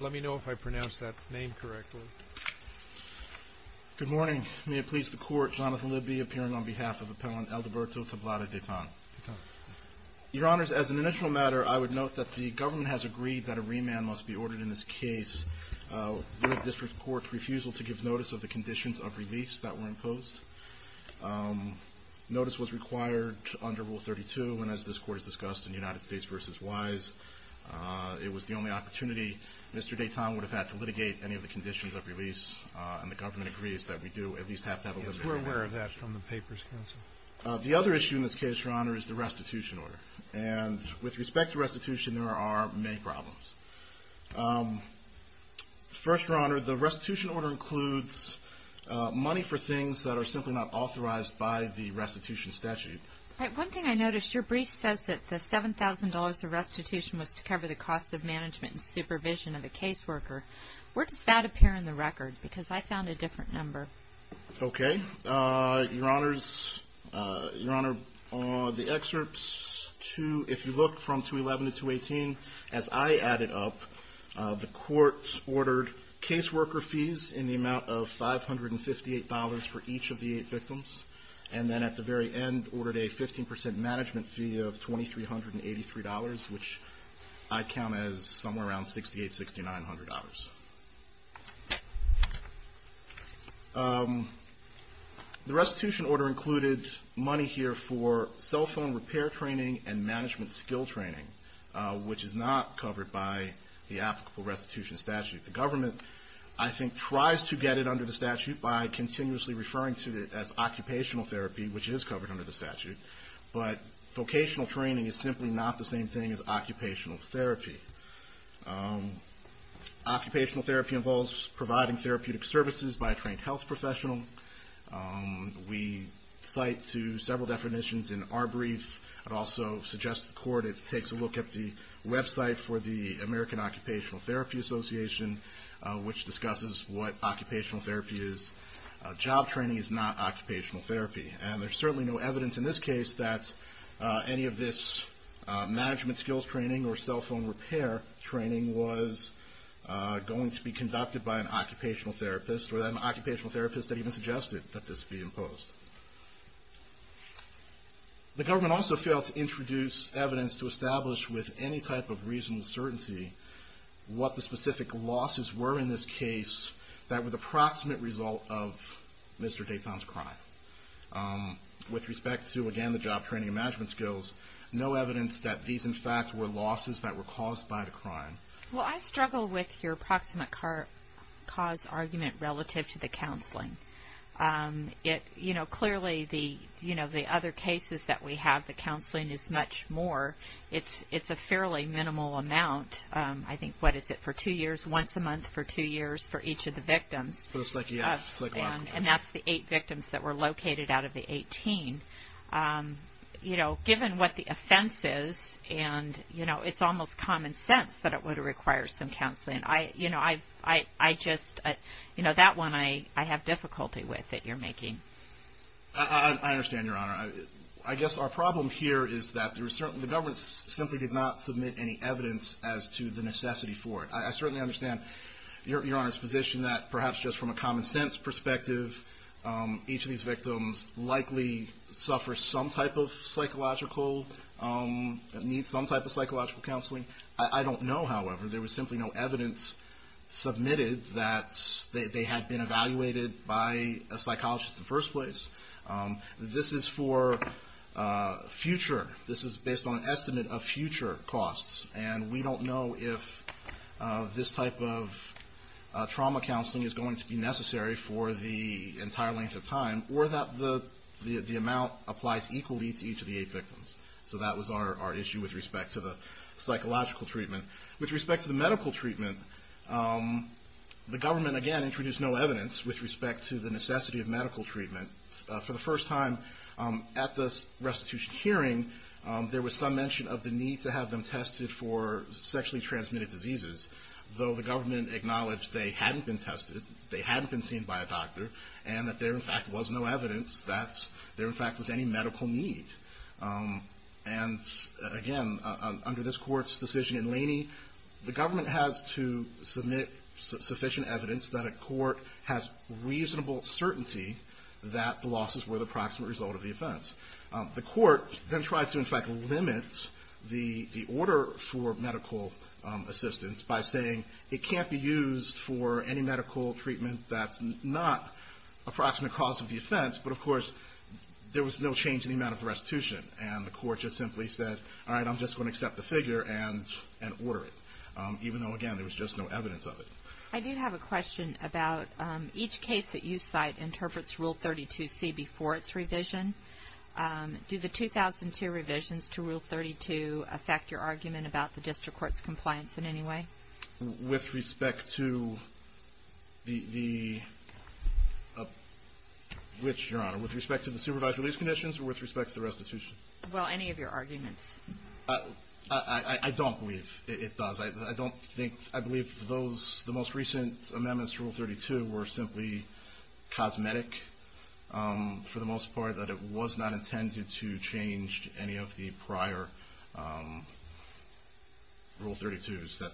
Let me know if I pronounced that name correctly. Good morning. May it please the Court, Jonathan Libby appearing on behalf of Appellant Aldoberto Tablada Datan. Your Honors, as an initial matter, I would note that the government has agreed that a remand must be ordered in this case with the District Court's refusal to give notice of the conditions of release that were imposed. Notice was required under Rule 32, and as this Court has discussed in United States v. Wise, it was the only opportunity Mr. Datan would have had to litigate any of the conditions of release, and the government agrees that we do at least have to have a remand. Yes, we're aware of that from the Papers Council. The other issue in this case, Your Honor, is the restitution order. And with respect to restitution, there are many problems. First, Your Honor, the restitution order includes money for things that are simply not authorized by the restitution statute. One thing I noticed, your brief says that the $7,000 of restitution was to cover the cost of management and supervision of a caseworker. Where does that appear in the record? Because I found a different number. Okay. Your Honors, Your Honor, the excerpts, if you look from 211 to 218, as I added up, the Court ordered caseworker fees in the amount of $558 for each of the eight victims, and then at the very end ordered a 15% management fee of $2,383, which I count as somewhere around $6,860, $6,900. The restitution order included money here for cell phone repair training and management skill training, which is not covered by the applicable restitution statute. The government, I think, tries to get it under the statute by continuously referring to it as occupational therapy, which is covered under the statute, but vocational training is simply not the same thing as occupational therapy. Occupational therapy involves providing therapeutic services by a trained health professional. We cite to several definitions in our brief. I'd also suggest to the Court it takes a look at the website for the American Occupational Therapy Association, which discusses what occupational therapy is. Job training is not occupational therapy. And there's certainly no evidence in this case that any of this management skills training or cell phone repair training was going to be conducted by an occupational therapist or that an occupational therapist had even suggested that this be imposed. The government also failed to introduce evidence to establish with any type of reasonable certainty what the specific losses were in this case that were the proximate result of Mr. Dayton's crime. With respect to, again, the job training and management skills, no evidence that these, in fact, were losses that were caused by the crime. Well, I struggle with your proximate cause argument relative to the counseling. Clearly, the other cases that we have, the counseling is much more. It's a fairly minimal amount. I think, what is it, for two years? Once a month for two years for each of the victims. And that's the eight victims that were located out of the 18. Given what the offense is, it's almost common sense that it would require some counseling. I just, you know, that one I have difficulty with that you're making. I understand, Your Honor. I guess our problem here is that the government simply did not submit any evidence as to the necessity for it. I certainly understand Your Honor's position that perhaps just from a common sense perspective, each of these victims likely suffer some type of psychological, need some type of psychological counseling. I don't know, however. There was simply no evidence submitted that they had been evaluated by a psychologist in the first place. This is for future. This is based on an estimate of future costs. And we don't know if this type of trauma counseling is going to be necessary for the entire length of time or that the amount applies equally to each of the eight victims. So that was our issue with respect to the psychological treatment. With respect to the medical treatment, the government, again, introduced no evidence with respect to the necessity of medical treatment. For the first time at the restitution hearing, there was some mention of the need to have them tested for sexually transmitted diseases. Though the government acknowledged they hadn't been tested, they hadn't been seen by a doctor, and that there, in fact, was no evidence that there, in fact, was any medical need. And, again, under this Court's decision in Laney, the government has to submit sufficient evidence that a court has reasonable certainty that the losses were the proximate result of the offense. The court then tried to, in fact, limit the order for medical assistance by saying, it can't be used for any medical treatment that's not a proximate cause of the offense. But, of course, there was no change in the amount of the restitution. And the court just simply said, all right, I'm just going to accept the figure and order it. Even though, again, there was just no evidence of it. I do have a question about each case that you cite interprets Rule 32C before its revision. Do the 2002 revisions to Rule 32 affect your argument about the district court's compliance in any way? With respect to the supervised release conditions or with respect to the restitution? Well, any of your arguments. I don't believe it does. I believe the most recent amendments to Rule 32 were simply cosmetic, for the most part, that it was not intended to change any of the prior Rule 32s that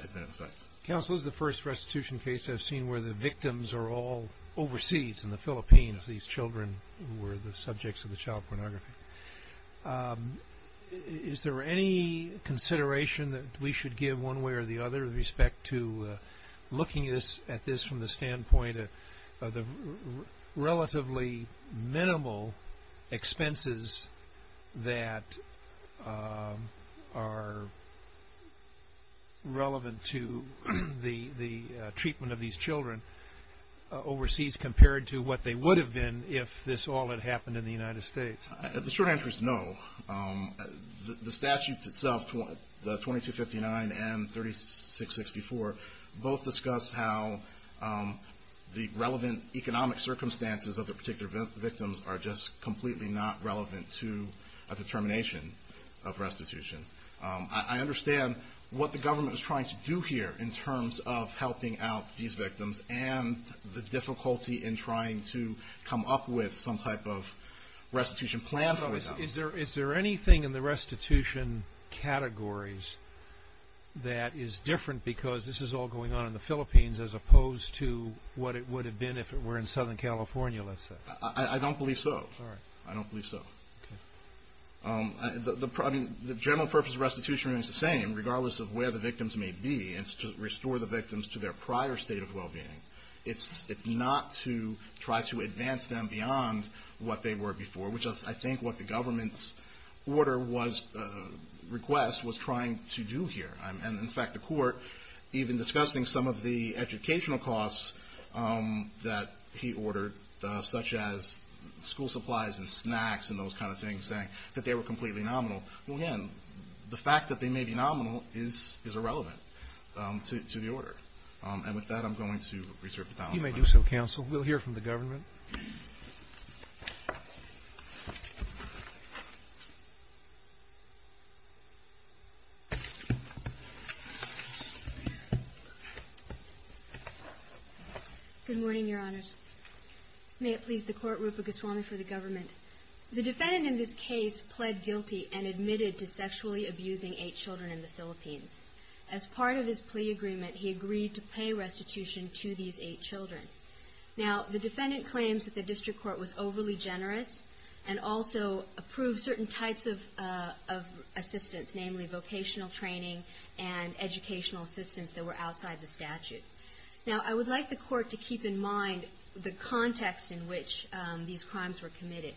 had been in effect. Counsel, this is the first restitution case I've seen where the victims are all overseas in the Philippines, these children who were the subjects of the child pornography. Is there any consideration that we should give one way or the other with respect to looking at this from the standpoint of the relatively minimal expenses that are relevant to the treatment of these children overseas compared to what they would have been if this all had happened in the United States? The short answer is no. The statutes itself, the 2259 and 3664, both discuss how the relevant economic circumstances of the particular victims are just completely not relevant to a determination of restitution. I understand what the government is trying to do here in terms of helping out these victims and the difficulty in trying to come up with some type of restitution plan, for example. Is there anything in the restitution categories that is different because this is all going on in the Philippines as opposed to what it would have been if it were in Southern California, let's say? I don't believe so. All right. I don't believe so. Okay. The general purpose of restitution remains the same, regardless of where the victims may be. It's to restore the victims to their prior state of well-being. It's not to try to advance them beyond what they were before, which I think what the government's order was to request was trying to do here. And, in fact, the Court, even discussing some of the educational costs that he ordered, such as school supplies and snacks and those kind of things, saying that they were completely nominal, well, again, the fact that they may be nominal is irrelevant to the order. And with that, I'm going to reserve the balance of my time. You may do so, counsel. We'll hear from the government. Thank you. Good morning, Your Honors. May it please the Court, Rupa Goswami for the government. The defendant in this case pled guilty and admitted to sexually abusing eight children in the Philippines. As part of his plea agreement, he agreed to pay restitution to these eight children. Now, the defendant claims that the district court was overly generous and also approved certain types of assistance, namely vocational training and educational assistance that were outside the statute. Now, I would like the Court to keep in mind the context in which these crimes were committed.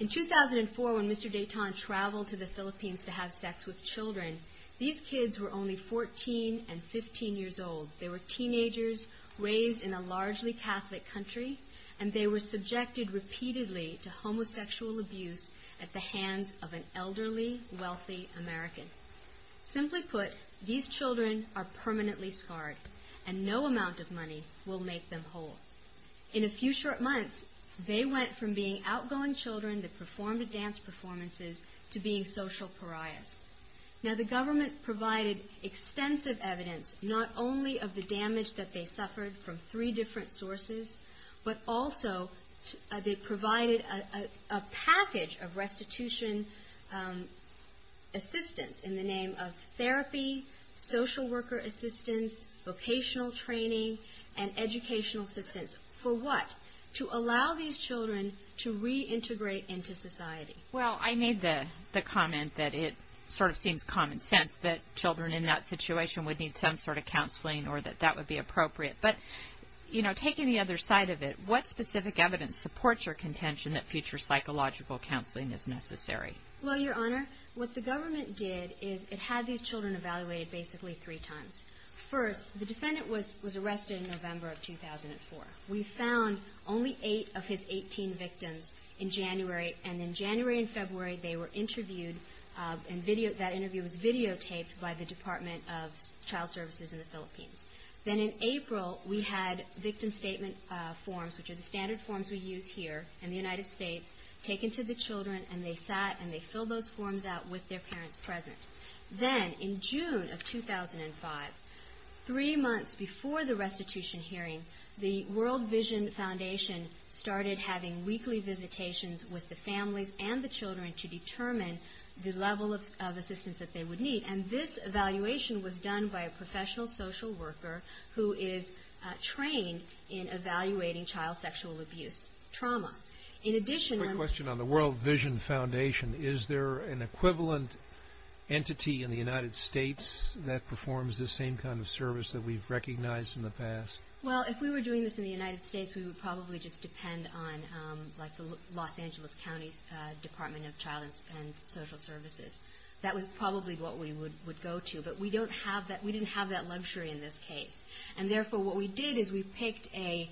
In 2004, when Mr. Dayton traveled to the Philippines to have sex with children, these kids were only 14 and 15 years old. They were teenagers raised in a largely Catholic country, and they were subjected repeatedly to homosexual abuse at the hands of an elderly, wealthy American. Simply put, these children are permanently scarred, and no amount of money will make them whole. In a few short months, they went from being outgoing children that performed at dance performances to being social pariahs. Now, the government provided extensive evidence not only of the damage that they suffered from three different sources, but also they provided a package of restitution assistance in the name of therapy, social worker assistance, vocational training, and educational assistance. For what? To allow these children to reintegrate into society. Well, I made the comment that it sort of seems common sense that children in that situation would need some sort of counseling or that that would be appropriate. But, you know, taking the other side of it, what specific evidence supports your contention that future psychological counseling is necessary? Well, Your Honor, what the government did is it had these children evaluated basically three times. First, the defendant was arrested in November of 2004. We found only eight of his 18 victims in January. And in January and February, they were interviewed, and that interview was videotaped by the Department of Child Services in the Philippines. Then in April, we had victim statement forms, which are the standard forms we use here in the United States, taken to the children, and they sat and they filled those forms out with their parents present. Then in June of 2005, three months before the restitution hearing, the World Vision Foundation started having weekly visitations with the families and the children to determine the level of assistance that they would need. And this evaluation was done by a professional social worker who is trained in evaluating child sexual abuse trauma. In addition, I'm... Is there an entity in the United States that performs this same kind of service that we've recognized in the past? Well, if we were doing this in the United States, we would probably just depend on, like the Los Angeles County Department of Child and Social Services. That was probably what we would go to. But we don't have that, we didn't have that luxury in this case. And therefore, what we did is we picked an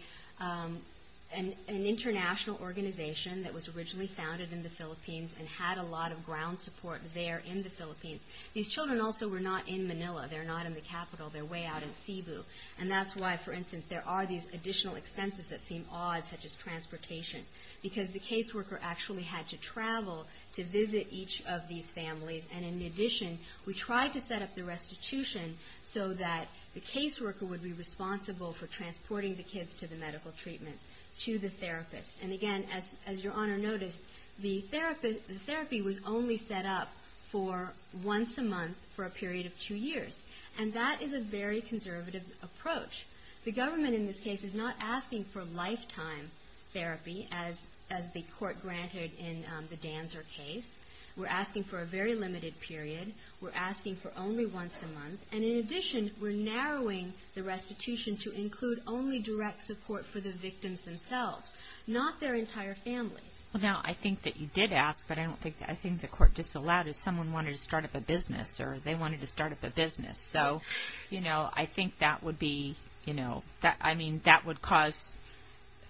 international organization that was originally founded in the Philippines and had a lot of ground support there in the Philippines. These children also were not in Manila, they're not in the capital, they're way out in Cebu. And that's why, for instance, there are these additional expenses that seem odd, such as transportation, because the caseworker actually had to travel to visit each of these families. And in addition, we tried to set up the restitution so that the caseworker would be responsible for transporting the kids to the medical treatments, to the therapist. And again, as Your Honor noticed, the therapy was only set up for once a month for a period of two years. And that is a very conservative approach. The government in this case is not asking for lifetime therapy, as the court granted in the Danzer case. We're asking for a very limited period. We're asking for only once a month. And in addition, we're narrowing the restitution to include only direct support for the victims themselves. Not their entire families. Now, I think that you did ask, but I think the court disallowed it. Someone wanted to start up a business, or they wanted to start up a business. So, you know, I think that would be, you know, I mean, that would cause,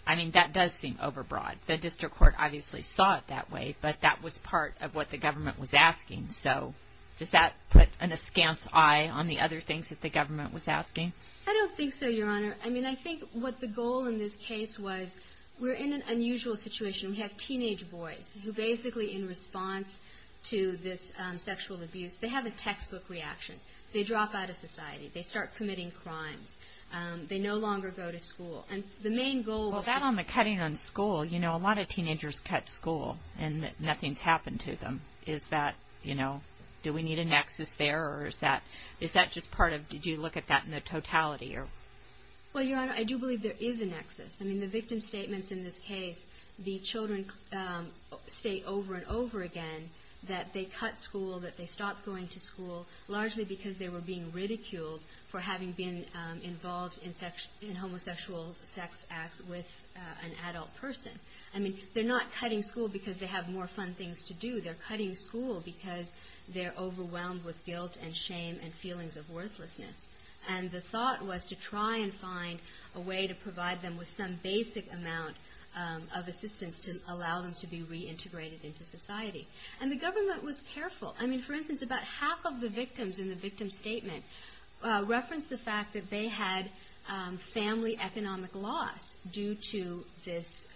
I mean, that does seem overbroad. The district court obviously saw it that way, but that was part of what the government was asking. So does that put an askance eye on the other things that the government was asking? I don't think so, Your Honor. I mean, I think what the goal in this case was we're in an unusual situation. We have teenage boys who basically in response to this sexual abuse, they have a textbook reaction. They drop out of society. They start committing crimes. They no longer go to school. And the main goal was that. Well, that on the cutting on school, you know, a lot of teenagers cut school and nothing's happened to them. Is that, you know, do we need a nexus there? Or is that just part of, did you look at that in the totality? Well, Your Honor, I do believe there is a nexus. I mean, the victim statements in this case, the children state over and over again that they cut school, that they stopped going to school largely because they were being ridiculed for having been involved in homosexual sex acts with an adult person. I mean, they're not cutting school because they have more fun things to do. They're cutting school because they're overwhelmed with guilt and shame and feelings of worthlessness. And the thought was to try and find a way to provide them with some basic amount of assistance to allow them to be reintegrated into society. And the government was careful. I mean, for instance, about half of the victims in the victim statement referenced the fact that they had family economic loss due to this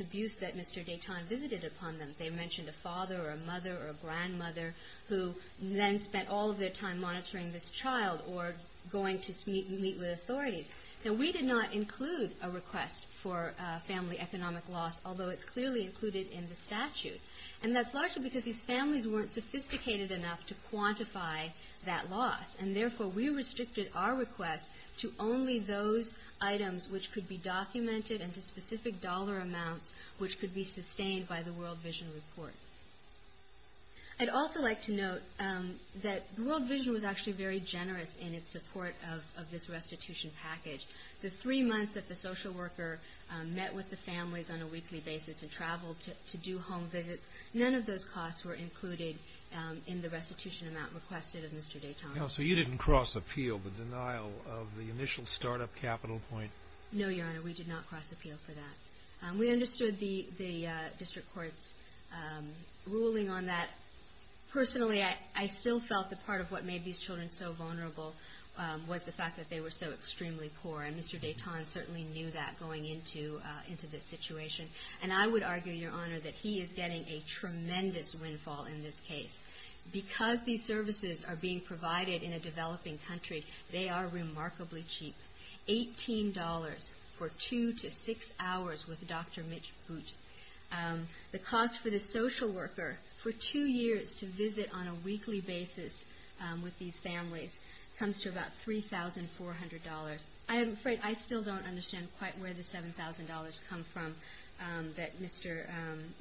abuse that Mr. Deton visited upon them. They mentioned a father or a mother or a grandmother who then spent all of their time monitoring this child or going to meet with authorities. Now, we did not include a request for family economic loss, although it's clearly included in the statute. And that's largely because these families weren't sophisticated enough to quantify that loss. And therefore, we restricted our request to only those items which could be documented and to specific dollar amounts which could be sustained by the World Vision Report. I'd also like to note that World Vision was actually very generous in its support of this restitution package. The three months that the social worker met with the families on a weekly basis and traveled to do home visits, none of those costs were included in the restitution amount requested of Mr. Deton. So you didn't cross appeal the denial of the initial startup capital point? No, Your Honor, we did not cross appeal for that. We understood the district court's ruling on that. Personally, I still felt that part of what made these children so vulnerable was the fact that they were so extremely poor. And Mr. Deton certainly knew that going into this situation. And I would argue, Your Honor, that he is getting a tremendous windfall in this case. Because these services are being provided in a developing country, they are remarkably cheap. $18 for two to six hours with Dr. Mitch Boot. The cost for the social worker for two years to visit on a weekly basis with these families comes to about $3,400. I'm afraid I still don't understand quite where the $7,000 come from that Mr.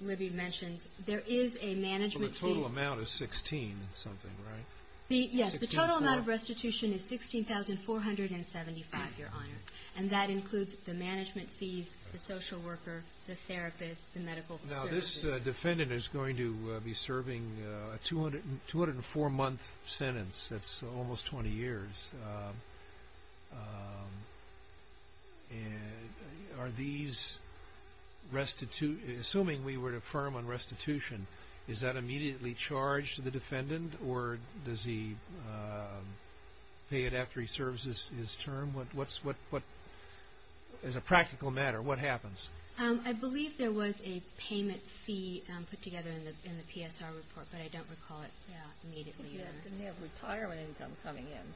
Libby mentions. There is a management fee. So the total amount is $16 something, right? Yes, the total amount of restitution is $16,475, Your Honor. And that includes the management fees, the social worker, the therapist, the medical services. Now, this defendant is going to be serving a 204-month sentence. That's almost 20 years. Assuming we were to affirm on restitution, is that immediately charged to the defendant, or does he pay it after he serves his term? As a practical matter, what happens? I believe there was a payment fee put together in the PSR report, but I don't recall it immediately. Didn't he have retirement income coming in?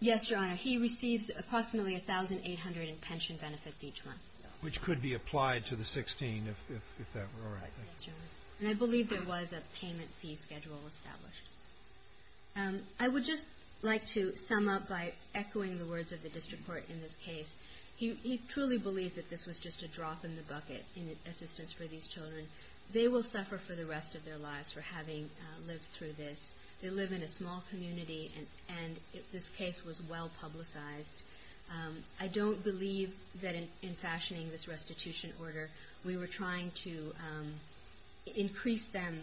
Yes, Your Honor. He receives approximately $1,800 in pension benefits each month. Which could be applied to the $16,000 if that were all right. Yes, Your Honor. And I believe there was a payment fee schedule established. I would just like to sum up by echoing the words of the district court in this case. He truly believed that this was just a drop in the bucket in assistance for these children. They will suffer for the rest of their lives for having lived through this. They live in a small community, and this case was well publicized. I don't believe that in fashioning this restitution order, we were trying to increase them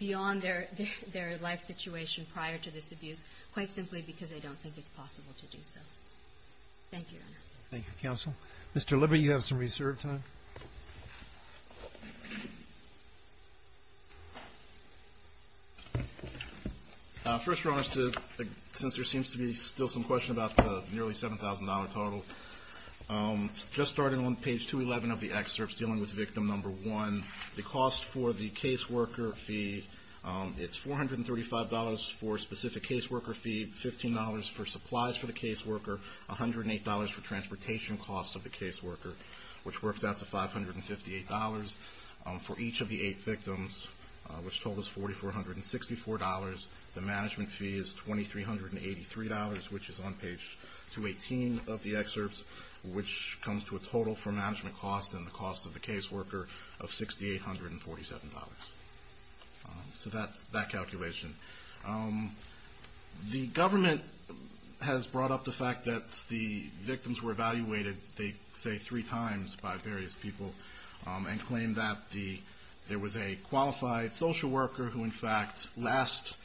beyond their life situation prior to this abuse, quite simply because they don't think it's possible to do so. Thank you, Your Honor. Thank you, counsel. Mr. Libby, you have some reserve time. First, Your Honor, since there seems to be still some question about the nearly $7,000 total, just starting on page 211 of the excerpts dealing with victim number one, the cost for the caseworker fee, it's $435 for a specific caseworker fee, $15 for supplies for the caseworker, $108 for transportation costs of the caseworker, which works out to $558 for each of the eight victims, which totals $4,464. The management fee is $2,383, which is on page 218 of the excerpts, which comes to a total for management costs and the cost of the caseworker of $6,847. So that's that calculation. The government has brought up the fact that the victims were evaluated, they say three times by various people, and claimed that there was a qualified social worker who, in fact, last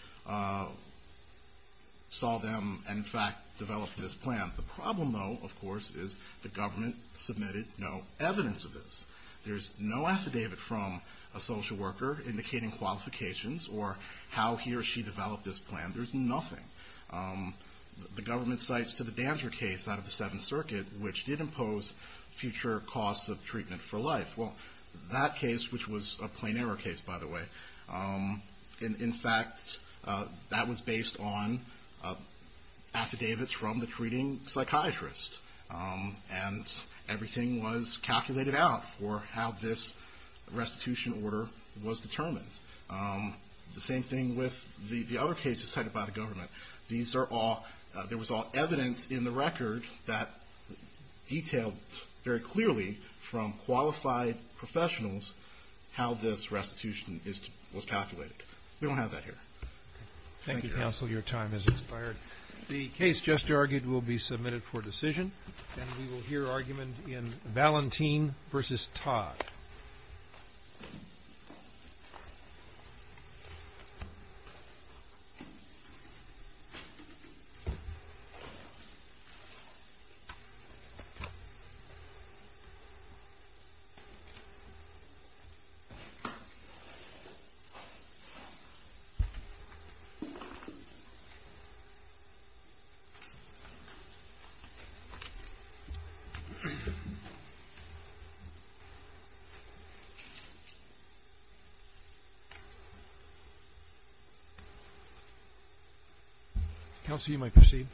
saw them and, in fact, developed this plan. The problem, though, of course, is the government submitted no evidence of this. There's no affidavit from a social worker indicating qualifications or how he or she developed this plan. There's nothing. The government cites to the Danger case out of the Seventh Circuit, which did impose future costs of treatment for life. Well, that case, which was a plain error case, by the way, in fact, that was based on affidavits from the treating psychiatrist, and everything was calculated out for how this restitution order was determined. The same thing with the other cases cited by the government. There was all evidence in the record that detailed very clearly from qualified professionals how this restitution was calculated. We don't have that here. Thank you, counsel. Your time has expired. Thank you. Counsel, you might proceed.